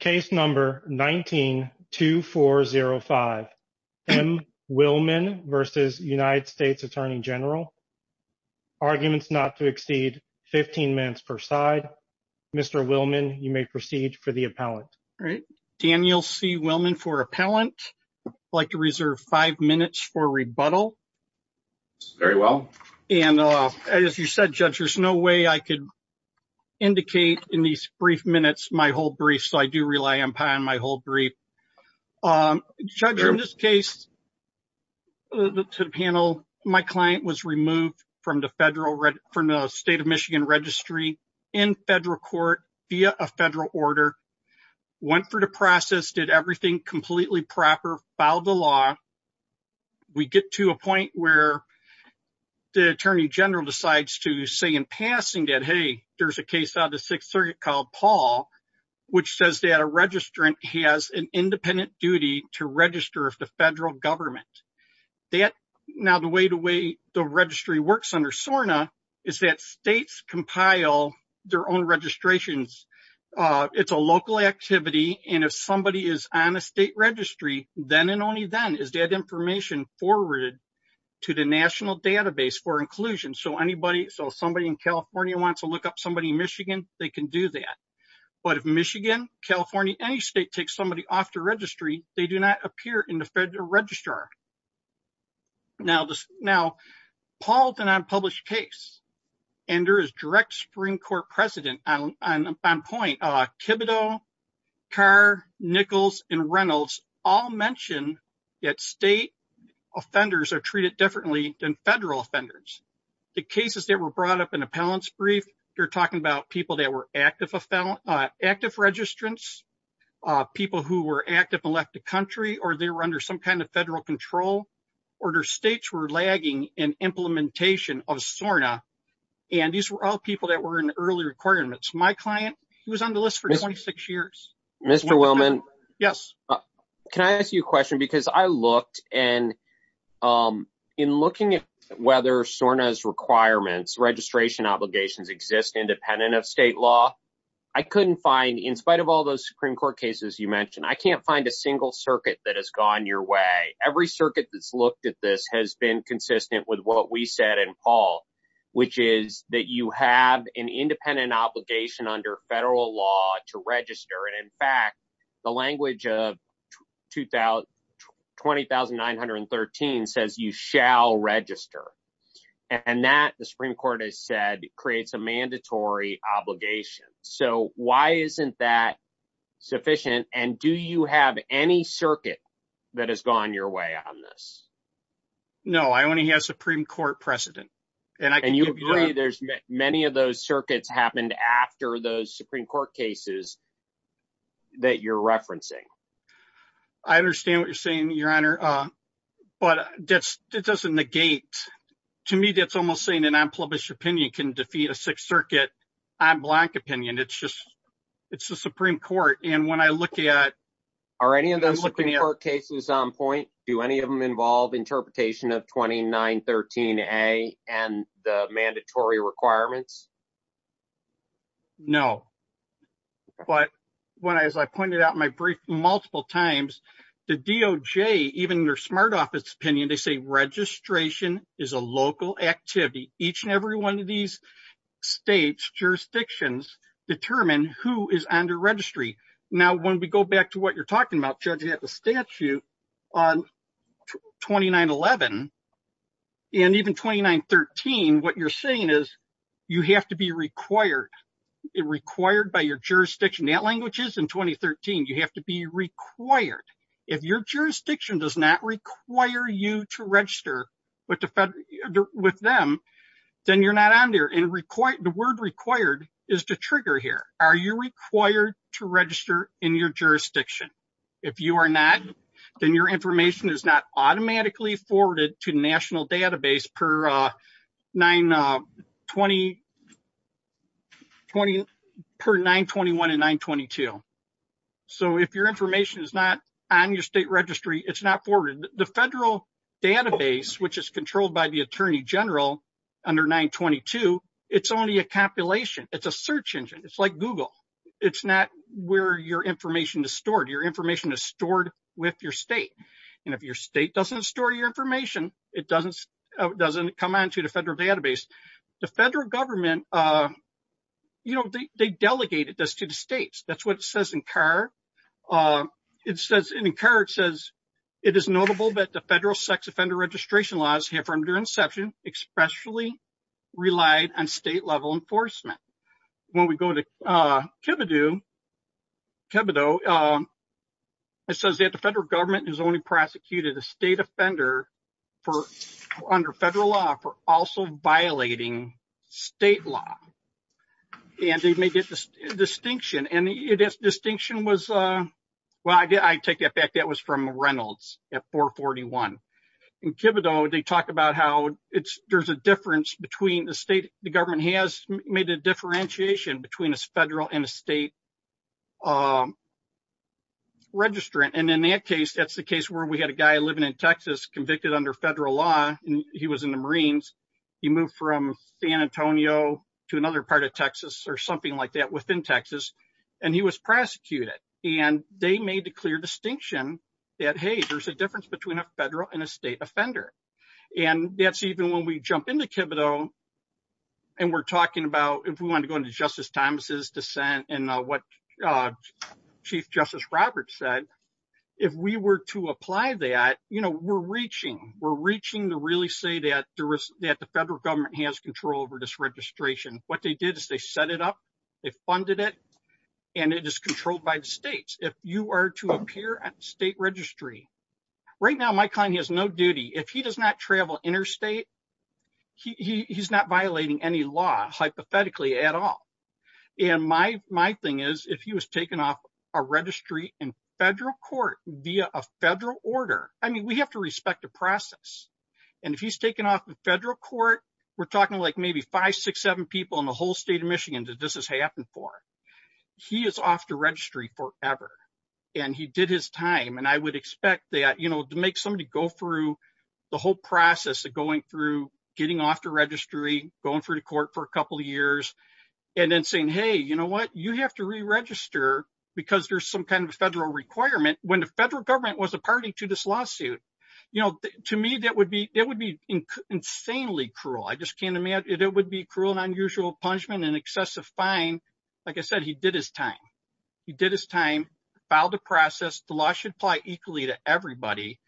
Case number 19-2405, M. Willman v. United States Attorney General. Arguments not to exceed 15 minutes per side. Mr. Willman, you may proceed for the appellant. All right. Daniel C. Willman for appellant. I'd like to reserve five minutes for rebuttal. Very well. And as you said, Judge, there's no way I could indicate in these brief minutes my whole brief, so I do rely on my whole brief. Judge, in this case, to the panel, my client was removed from the state of Michigan registry in federal court via a federal order, went through the process, did everything completely proper, filed the law. We get to a point where the attorney general decides to say in passing that, there's a case out of the Sixth Circuit called Paul, which says that a registrant has an independent duty to register with the federal government. Now, the way the registry works under SORNA is that states compile their own registrations. It's a local activity, and if somebody is on a state registry, then and only then is that information forwarded to the national database for inclusion. So if somebody in California wants to look up somebody in Michigan, they can do that. But if Michigan, California, any state takes somebody off the registry, they do not appear in the federal registrar. Now, Paul is an unpublished case, and there is direct Supreme Court precedent on point. Thibodeau, Carr, Nichols, and Reynolds all mention that state offenders are treated differently than federal offenders. The cases that were brought up in appellant's brief, they're talking about people that were active registrants, people who were active and left the country, or they were under some kind of federal control, or their states were lagging in implementation of SORNA, and these were all people that were in early requirements. My client, he was on the list for 26 years. Mr. Willman, can I ask you a question? Because I looked, and in looking at whether SORNA's requirements, registration obligations exist independent of state law, I couldn't find, in spite of all those Supreme Court cases you mentioned, I can't find a single circuit that has gone your way. Every circuit that's looked at this has been consistent with what we said in Paul, which is that you have an independent obligation under federal law to register, and in fact, the language of 20,913 says you shall register, and that, the Supreme Court has said, creates a mandatory obligation. So why isn't that sufficient, and do you have any circuit that has gone your way on this? No, I only have Supreme Court precedent. And you agree there's many of those circuits happened after those Supreme Court cases that you're referencing? I understand what you're saying, Your Honor, but that doesn't negate, to me, that's almost saying an unpublished opinion can defeat a Sixth Circuit en blanc opinion. It's just, it's the Supreme Court, and when I look at... Do any of those cases involve interpretation of 20,913A and the mandatory requirements? No, but as I pointed out in my brief multiple times, the DOJ, even their smart office opinion, they say registration is a local activity. Each and every one of these states' jurisdictions determine who is under registry. Now, when we go back to what you're talking about, Judge, you have the statute on 2911, and even 2913, what you're saying is, you have to be required, required by your jurisdiction. That language is in 2013, you have to be required. If your jurisdiction does not require you to register with them, then you're not on there, and the word required is the trigger here. Are you required to register in your jurisdiction? If you are not, then your information is not automatically forwarded to national database per 921 and 922. So, if your information is not on your state registry, it's not forwarded. The federal database, which is controlled by the Attorney General under 922, it's only a compilation. It's a search engine. It's like Google. It's not where your information is stored. Your information is stored with your state. And if your state doesn't store your information, it doesn't come on to the federal database. The federal government, you know, they delegated this to the states. That's what it says in CAR. In CAR, it says, it is notable that the federal sex offender registration laws here from their relied on state-level enforcement. When we go to Kibidoo, it says that the federal government has only prosecuted a state offender under federal law for also violating state law. And they made this distinction. And this distinction was, well, I take that back. That was from Reynolds at 441. In Kibidoo, they talk about how there's a difference between the state the government has made a differentiation between a federal and a state registrant. And in that case, that's the case where we had a guy living in Texas convicted under federal law. He was in the Marines. He moved from San Antonio to another part of Texas or something like that that, hey, there's a difference between a federal and a state offender. And that's even when we jump into Kibidoo and we're talking about if we want to go into Justice Thomas's dissent and what Chief Justice Roberts said, if we were to apply that, you know, we're reaching. We're reaching to really say that the federal government has control over this registration. What they did is they set it up, they funded it, and it is controlled by the states. If you are to appear at the state registry, right now, my client has no duty. If he does not travel interstate, he's not violating any law hypothetically at all. And my thing is if he was taken off a registry in federal court via a federal order, I mean, we have to respect the process. And if he's taken off the federal court, we're talking like maybe five, six, seven people in the whole state of Michigan that this has happened for. He is off the registry forever. And he did his time. And I would expect that, you know, to make somebody go through the whole process of going through, getting off the registry, going through the court for a couple of years, and then saying, hey, you know what, you have to re-register because there's some kind of federal requirement. When the federal government was a party to this lawsuit, you know, to me, that would be insanely cruel. I just can't imagine. It would be cruel and unusual punishment and excessive fine. Like I said, he did his time. He did his time, filed a process. The law should apply equally to everybody.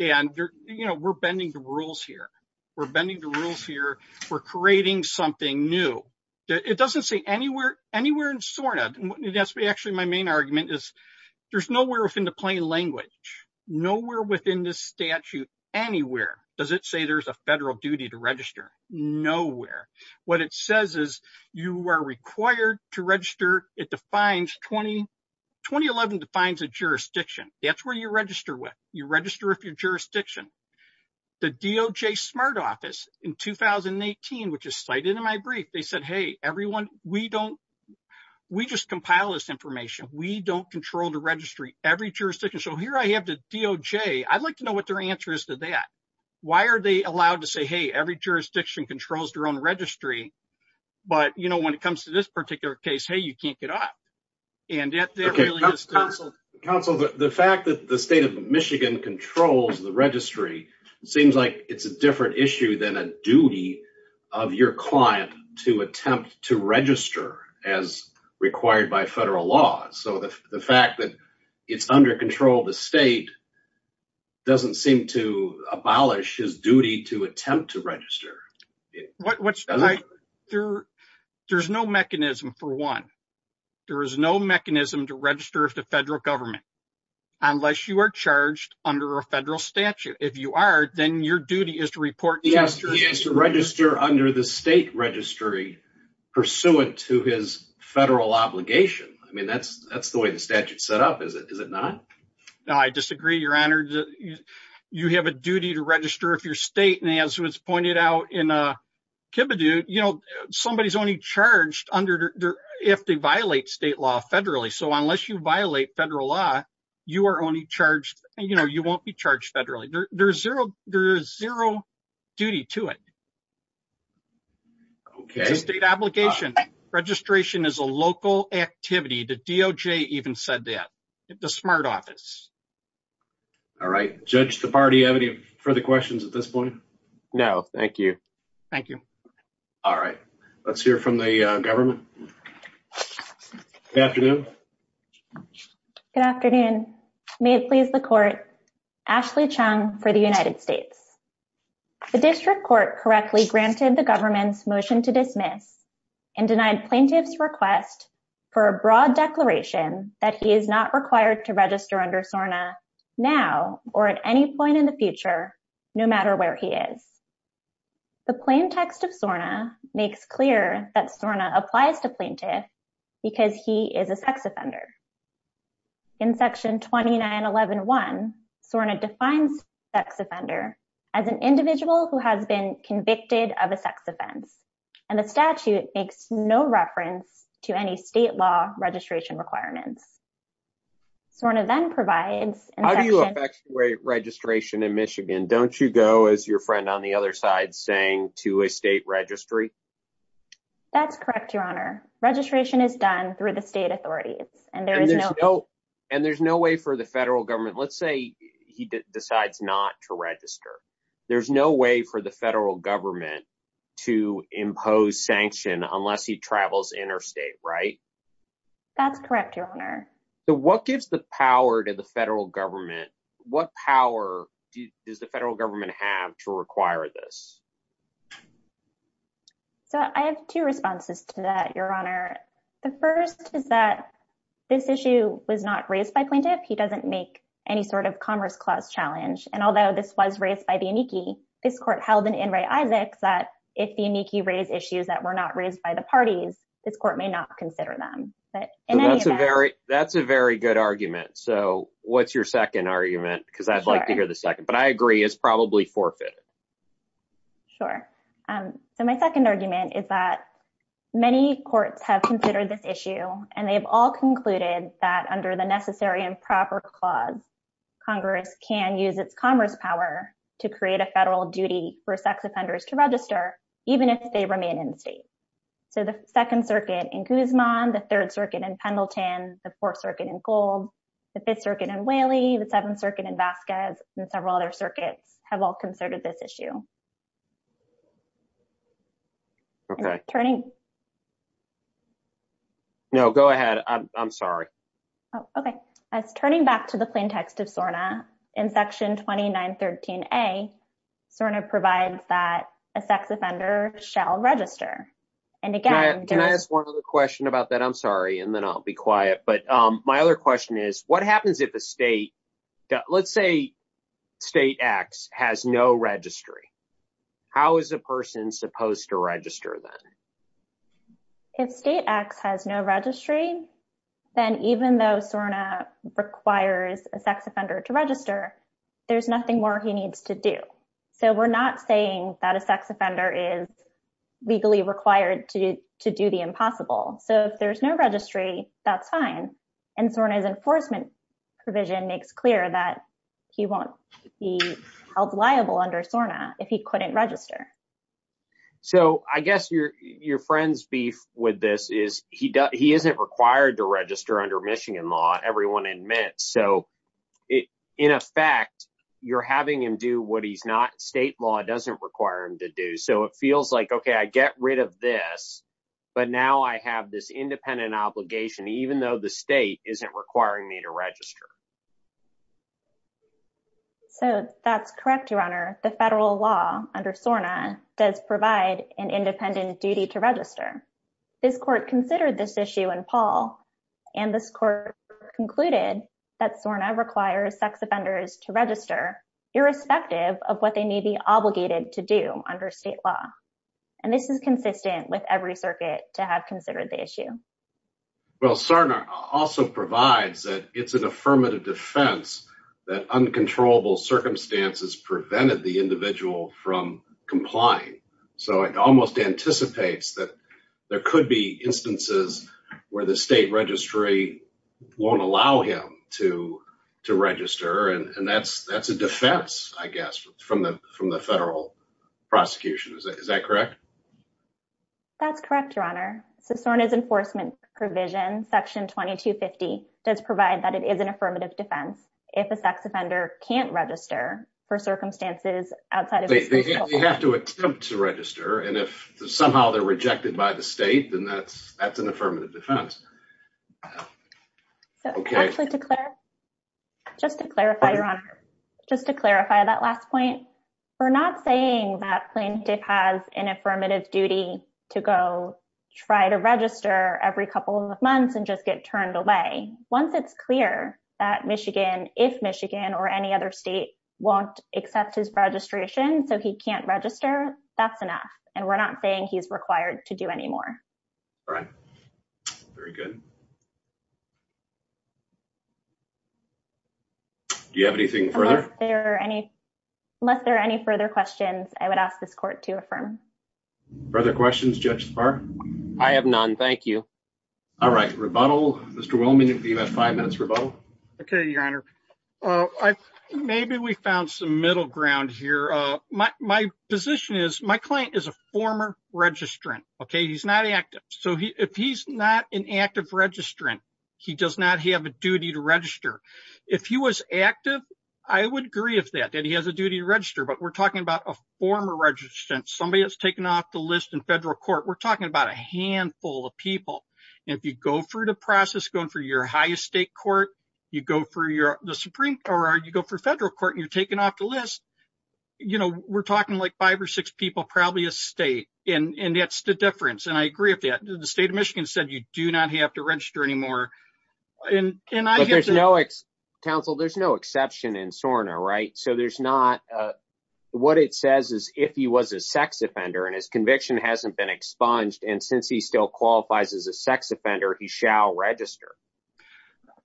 And, you know, we're bending the rules here. We're bending the rules here. We're creating something new. It doesn't say anywhere in SORNA. That's actually my main argument is there's nowhere within the plain language, nowhere within this statute anywhere does it say there's a federal duty to register. Nowhere. What it says is you are required to register. It defines 2011 defines a jurisdiction. That's where you register with. You register with your jurisdiction. The DOJ smart office in 2018, which is cited in my brief, they said, hey, everyone, we don't, we just compile this information. We don't control the registry, every jurisdiction. So here I have the DOJ. I'd like to know what their answer is to that. Why are they allowed to say, hey, every jurisdiction controls their own registry? But, you know, when it comes to this particular case, hey, you can't get up. And yet that really is counsel. Okay. Counsel, the fact that the state of Michigan controls the registry, it seems like it's a different issue than a duty of your client to attempt to register as required by federal law. So the fact that it's under control of the state doesn't seem to abolish his duty to attempt to register. What's the right there. There's no mechanism for one. There is no mechanism to register with the federal government unless you are charged under a federal statute. If you are, then your duty is to report. He has to register under the state registry pursuant to his federal obligation. I mean, that's the way the statute set up. Is it not? No, I disagree, your honor. You have a duty to register if you're state. And as was pointed out in a Kibidoo, you know, somebody is only charged under if they violate state law federally. So unless you violate federal law, you are only charged, you know, you won't be charged federally. There's zero, there's zero duty to it. Okay. State obligation. Registration is a local activity. The DOJ even said that. The smart office. All right. Judge, the party have any further questions at this point? No, thank you. Thank you. All right. Let's hear from the government. Good afternoon. Good afternoon. May it please the court. Ashley Chung for the United States. The district court correctly granted the government's motion to dismiss and denied plaintiffs request for a broad declaration that he is not required to register under SORNA now or at any point in the future, no matter where he is. The plain text of SORNA makes clear that SORNA applies to plaintiff because he is a sex offender. In section 29.11.1, SORNA defines sex offender as an individual who has been convicted of a sex offense and the statute makes no reference to any state law registration requirements. SORNA then provides. How do you affect registration in Michigan? Don't you go as your friend on the other side saying to a state registry? That's correct, your honor. Registration is done through the state authorities and there is no and there's no way for the federal government. Let's say he decides not to register. There's no way for the federal government to impose sanction unless he travels interstate, right? That's correct, your honor. So what gives the power to the federal government? What power does the federal government have to require this? So I have two responses to that, your honor. The first is that this issue was not raised by plaintiff. He doesn't make any sort of Commerce Clause challenge. And although this was raised by the amici, this court held in in Ray Isaacs that if the amici raise issues that were not raised by the parties, this court may not consider them. But that's a very, that's a very good argument. So what's your second argument? Because I'd like to hear the second, but I agree is probably forfeited. Sure. So my second argument is that many courts have considered this issue and they've all concluded that under the Necessary and Proper Clause, Congress can use its commerce power to create a federal duty for sex offenders to register, even if they remain in state. So the Second Circuit in Guzman, the Third Circuit in Pendleton, the Fourth Circuit in Gold, the Fifth Circuit in Whaley, the Seventh Circuit in Vasquez, and several other circuits have all considered this issue. Okay, turning. No, go ahead. I'm sorry. Okay. As turning back to the plaintext of SORNA, in Section 2913A, SORNA provides that a sex offender shall register. And again, Can I ask one other question about that? I'm sorry, and then I'll be quiet. But my other question is, what happens if a state, let's say State X has no registry? How is a person supposed to register then? If State X has no registry, then even though SORNA requires a sex offender to register, there's nothing more he needs to do. So we're not saying that a sex offender is legally required to do the impossible. So if there's no registry, that's fine. And SORNA's enforcement provision makes clear that he won't be held liable under SORNA if he couldn't register. So I guess your friend's beef with this is he isn't required to register under Michigan law, everyone admits. So in effect, you're having him do what he's not, state law doesn't require him to do. So it feels like, okay, I get rid of this. But now I have this independent obligation, even though the state isn't requiring me to register. So that's correct, Your Honor, the federal law under SORNA does provide an independent duty to register. This court considered this issue in Paul, and this court concluded that SORNA requires sex offenders to register, irrespective of what they may be obligated to do under state law. And this is consistent with every circuit to have considered the issue. Well, SORNA also provides that it's an affirmative defense that uncontrollable circumstances prevented the individual from complying. So it almost anticipates that there could be instances where the state registry won't allow him to register. And that's a defense, I guess, from the federal prosecution. Is that correct? That's correct, Your Honor. So SORNA's enforcement provision, section 2250, does provide that it is an affirmative defense if a sex offender can't register for circumstances outside of the state law. They have to attempt to register, and if somehow they're rejected by the state, then that's an affirmative defense. So actually, just to clarify, Your Honor, just to clarify that last point, we're not saying that plaintiff has an affirmative duty to go try to register every couple of months and just get turned away. Once it's clear that Michigan, if Michigan or any other state won't accept his registration so he can't register, that's enough. And we're not saying he's required to do any more. All right. Very good. Do you have anything further? Unless there are any further questions, I would ask this court to affirm. Further questions, Judge Spahr? I have none. Thank you. All right. Rebuttal. Mr. Wilman, if you have five minutes, rebuttal. Okay, Your Honor. Maybe we found some So if he's not an active registrant, he does not have a duty to register. If he was active, I would agree with that, that he has a duty to register. But we're talking about a former registrant, somebody that's taken off the list in federal court. We're talking about a handful of people. And if you go through the process, going for your highest state court, you go for federal court, and you're taken off the list, we're talking like five or six people, probably a state. And that's the difference. And I agree with that. The state of Michigan said you do not have to register anymore. But there's no, counsel, there's no exception in SORNA, right? So there's not, what it says is if he was a sex offender and his conviction hasn't been expunged, and since he still qualifies as a sex offender, he shall register.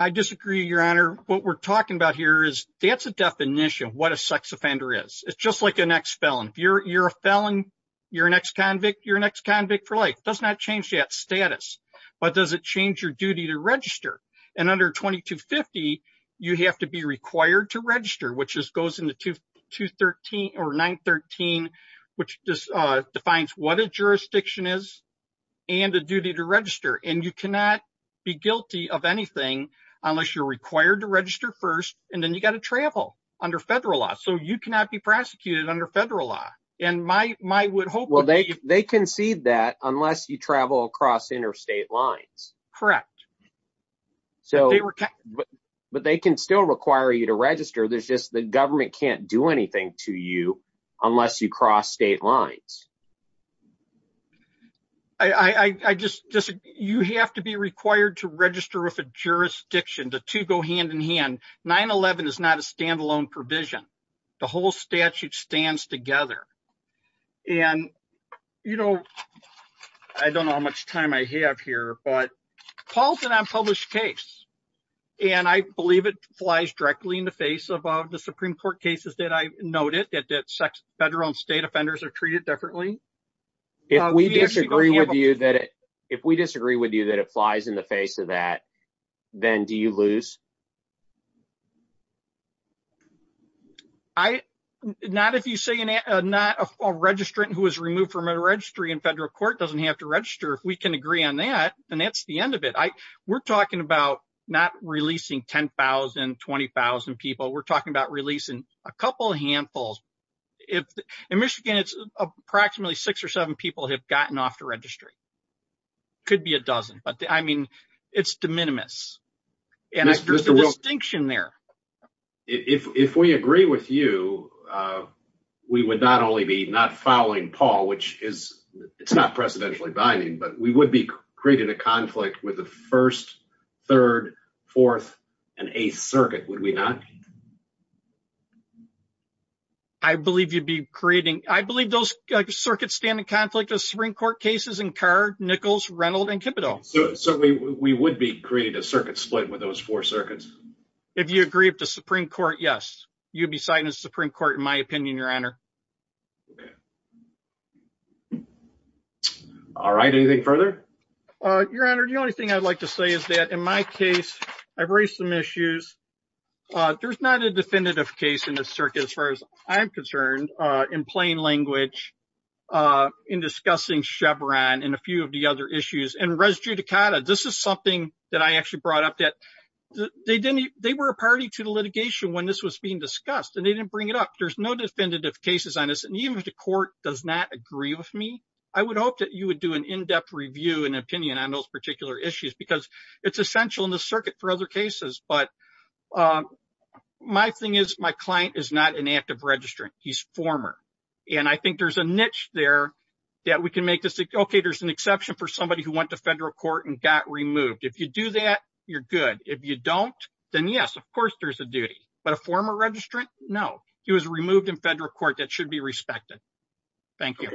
I disagree, Your Honor. What we're talking about here is that's a definition of what a sex offender is. It's just like an ex-felon. You're a felon, you're an ex-convict, you're an ex-convict for life. It does not change that status. But does it change your duty to register? And under 2250, you have to be required to register, which just goes into 213 or 913, which just defines what a jurisdiction is, and the duty to register. And you cannot be guilty of anything unless you're required to register first, and then you got to travel under federal law. So you cannot be prosecuted under federal law. Well, they concede that unless you travel across interstate lines. Correct. But they can still require you to register, there's just the government can't do anything to you unless you cross state lines. I just disagree. You have to be required to register with a jurisdiction. The two go hand in hand. 911 is not a standalone provision. The whole statute stands together. And, you know, I don't know how much time I have here, but Paul's an unpublished case. And I believe it flies directly in the face of the Supreme Court cases that I noted, that federal and state offenders are treated differently. If we disagree with you that it not a registrant who was removed from a registry in federal court doesn't have to register. If we can agree on that, then that's the end of it. We're talking about not releasing 10,000, 20,000 people. We're talking about releasing a couple of handfuls. In Michigan, it's approximately six or seven people have gotten off the registry. Could be a dozen, but I mean, it's de minimis. There's a distinction there. If we agree with you, we would not only be not following Paul, which is, it's not precedentially binding, but we would be creating a conflict with the first, third, fourth, and eighth circuit, would we not? I believe you'd be creating, I believe those circuits stand in conflict of Supreme Court cases in Carr, Nichols, Reynolds, and Kipito. So we would be creating a circuit split with those four circuits? If you agree with the Supreme Court, yes, you'd be signing a Supreme Court, in my opinion, your honor. All right, anything further? Your honor, the only thing I'd like to say is that in my case, I've raised some issues. There's not a definitive case in the of the other issues and res judicata. This is something that I actually brought up that they were a party to the litigation when this was being discussed and they didn't bring it up. There's no definitive cases on this. And even if the court does not agree with me, I would hope that you would do an in-depth review and opinion on those particular issues because it's essential in the circuit for other cases. But my thing is my client is not an active registrant, he's former. And I think there's a niche there that we can make this, okay, there's an exception for somebody who went to federal court and got removed. If you do that, you're good. If you don't, then yes, of course, there's a duty. But a former registrant, no, he was removed in federal court that should be respected. Thank you.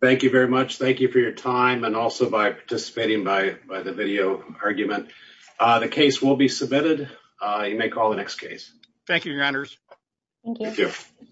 Thank you very much. Thank you for your time and also by participating by the video argument. The case will be submitted. You may call the next case. Thank you, your honors. Thank you.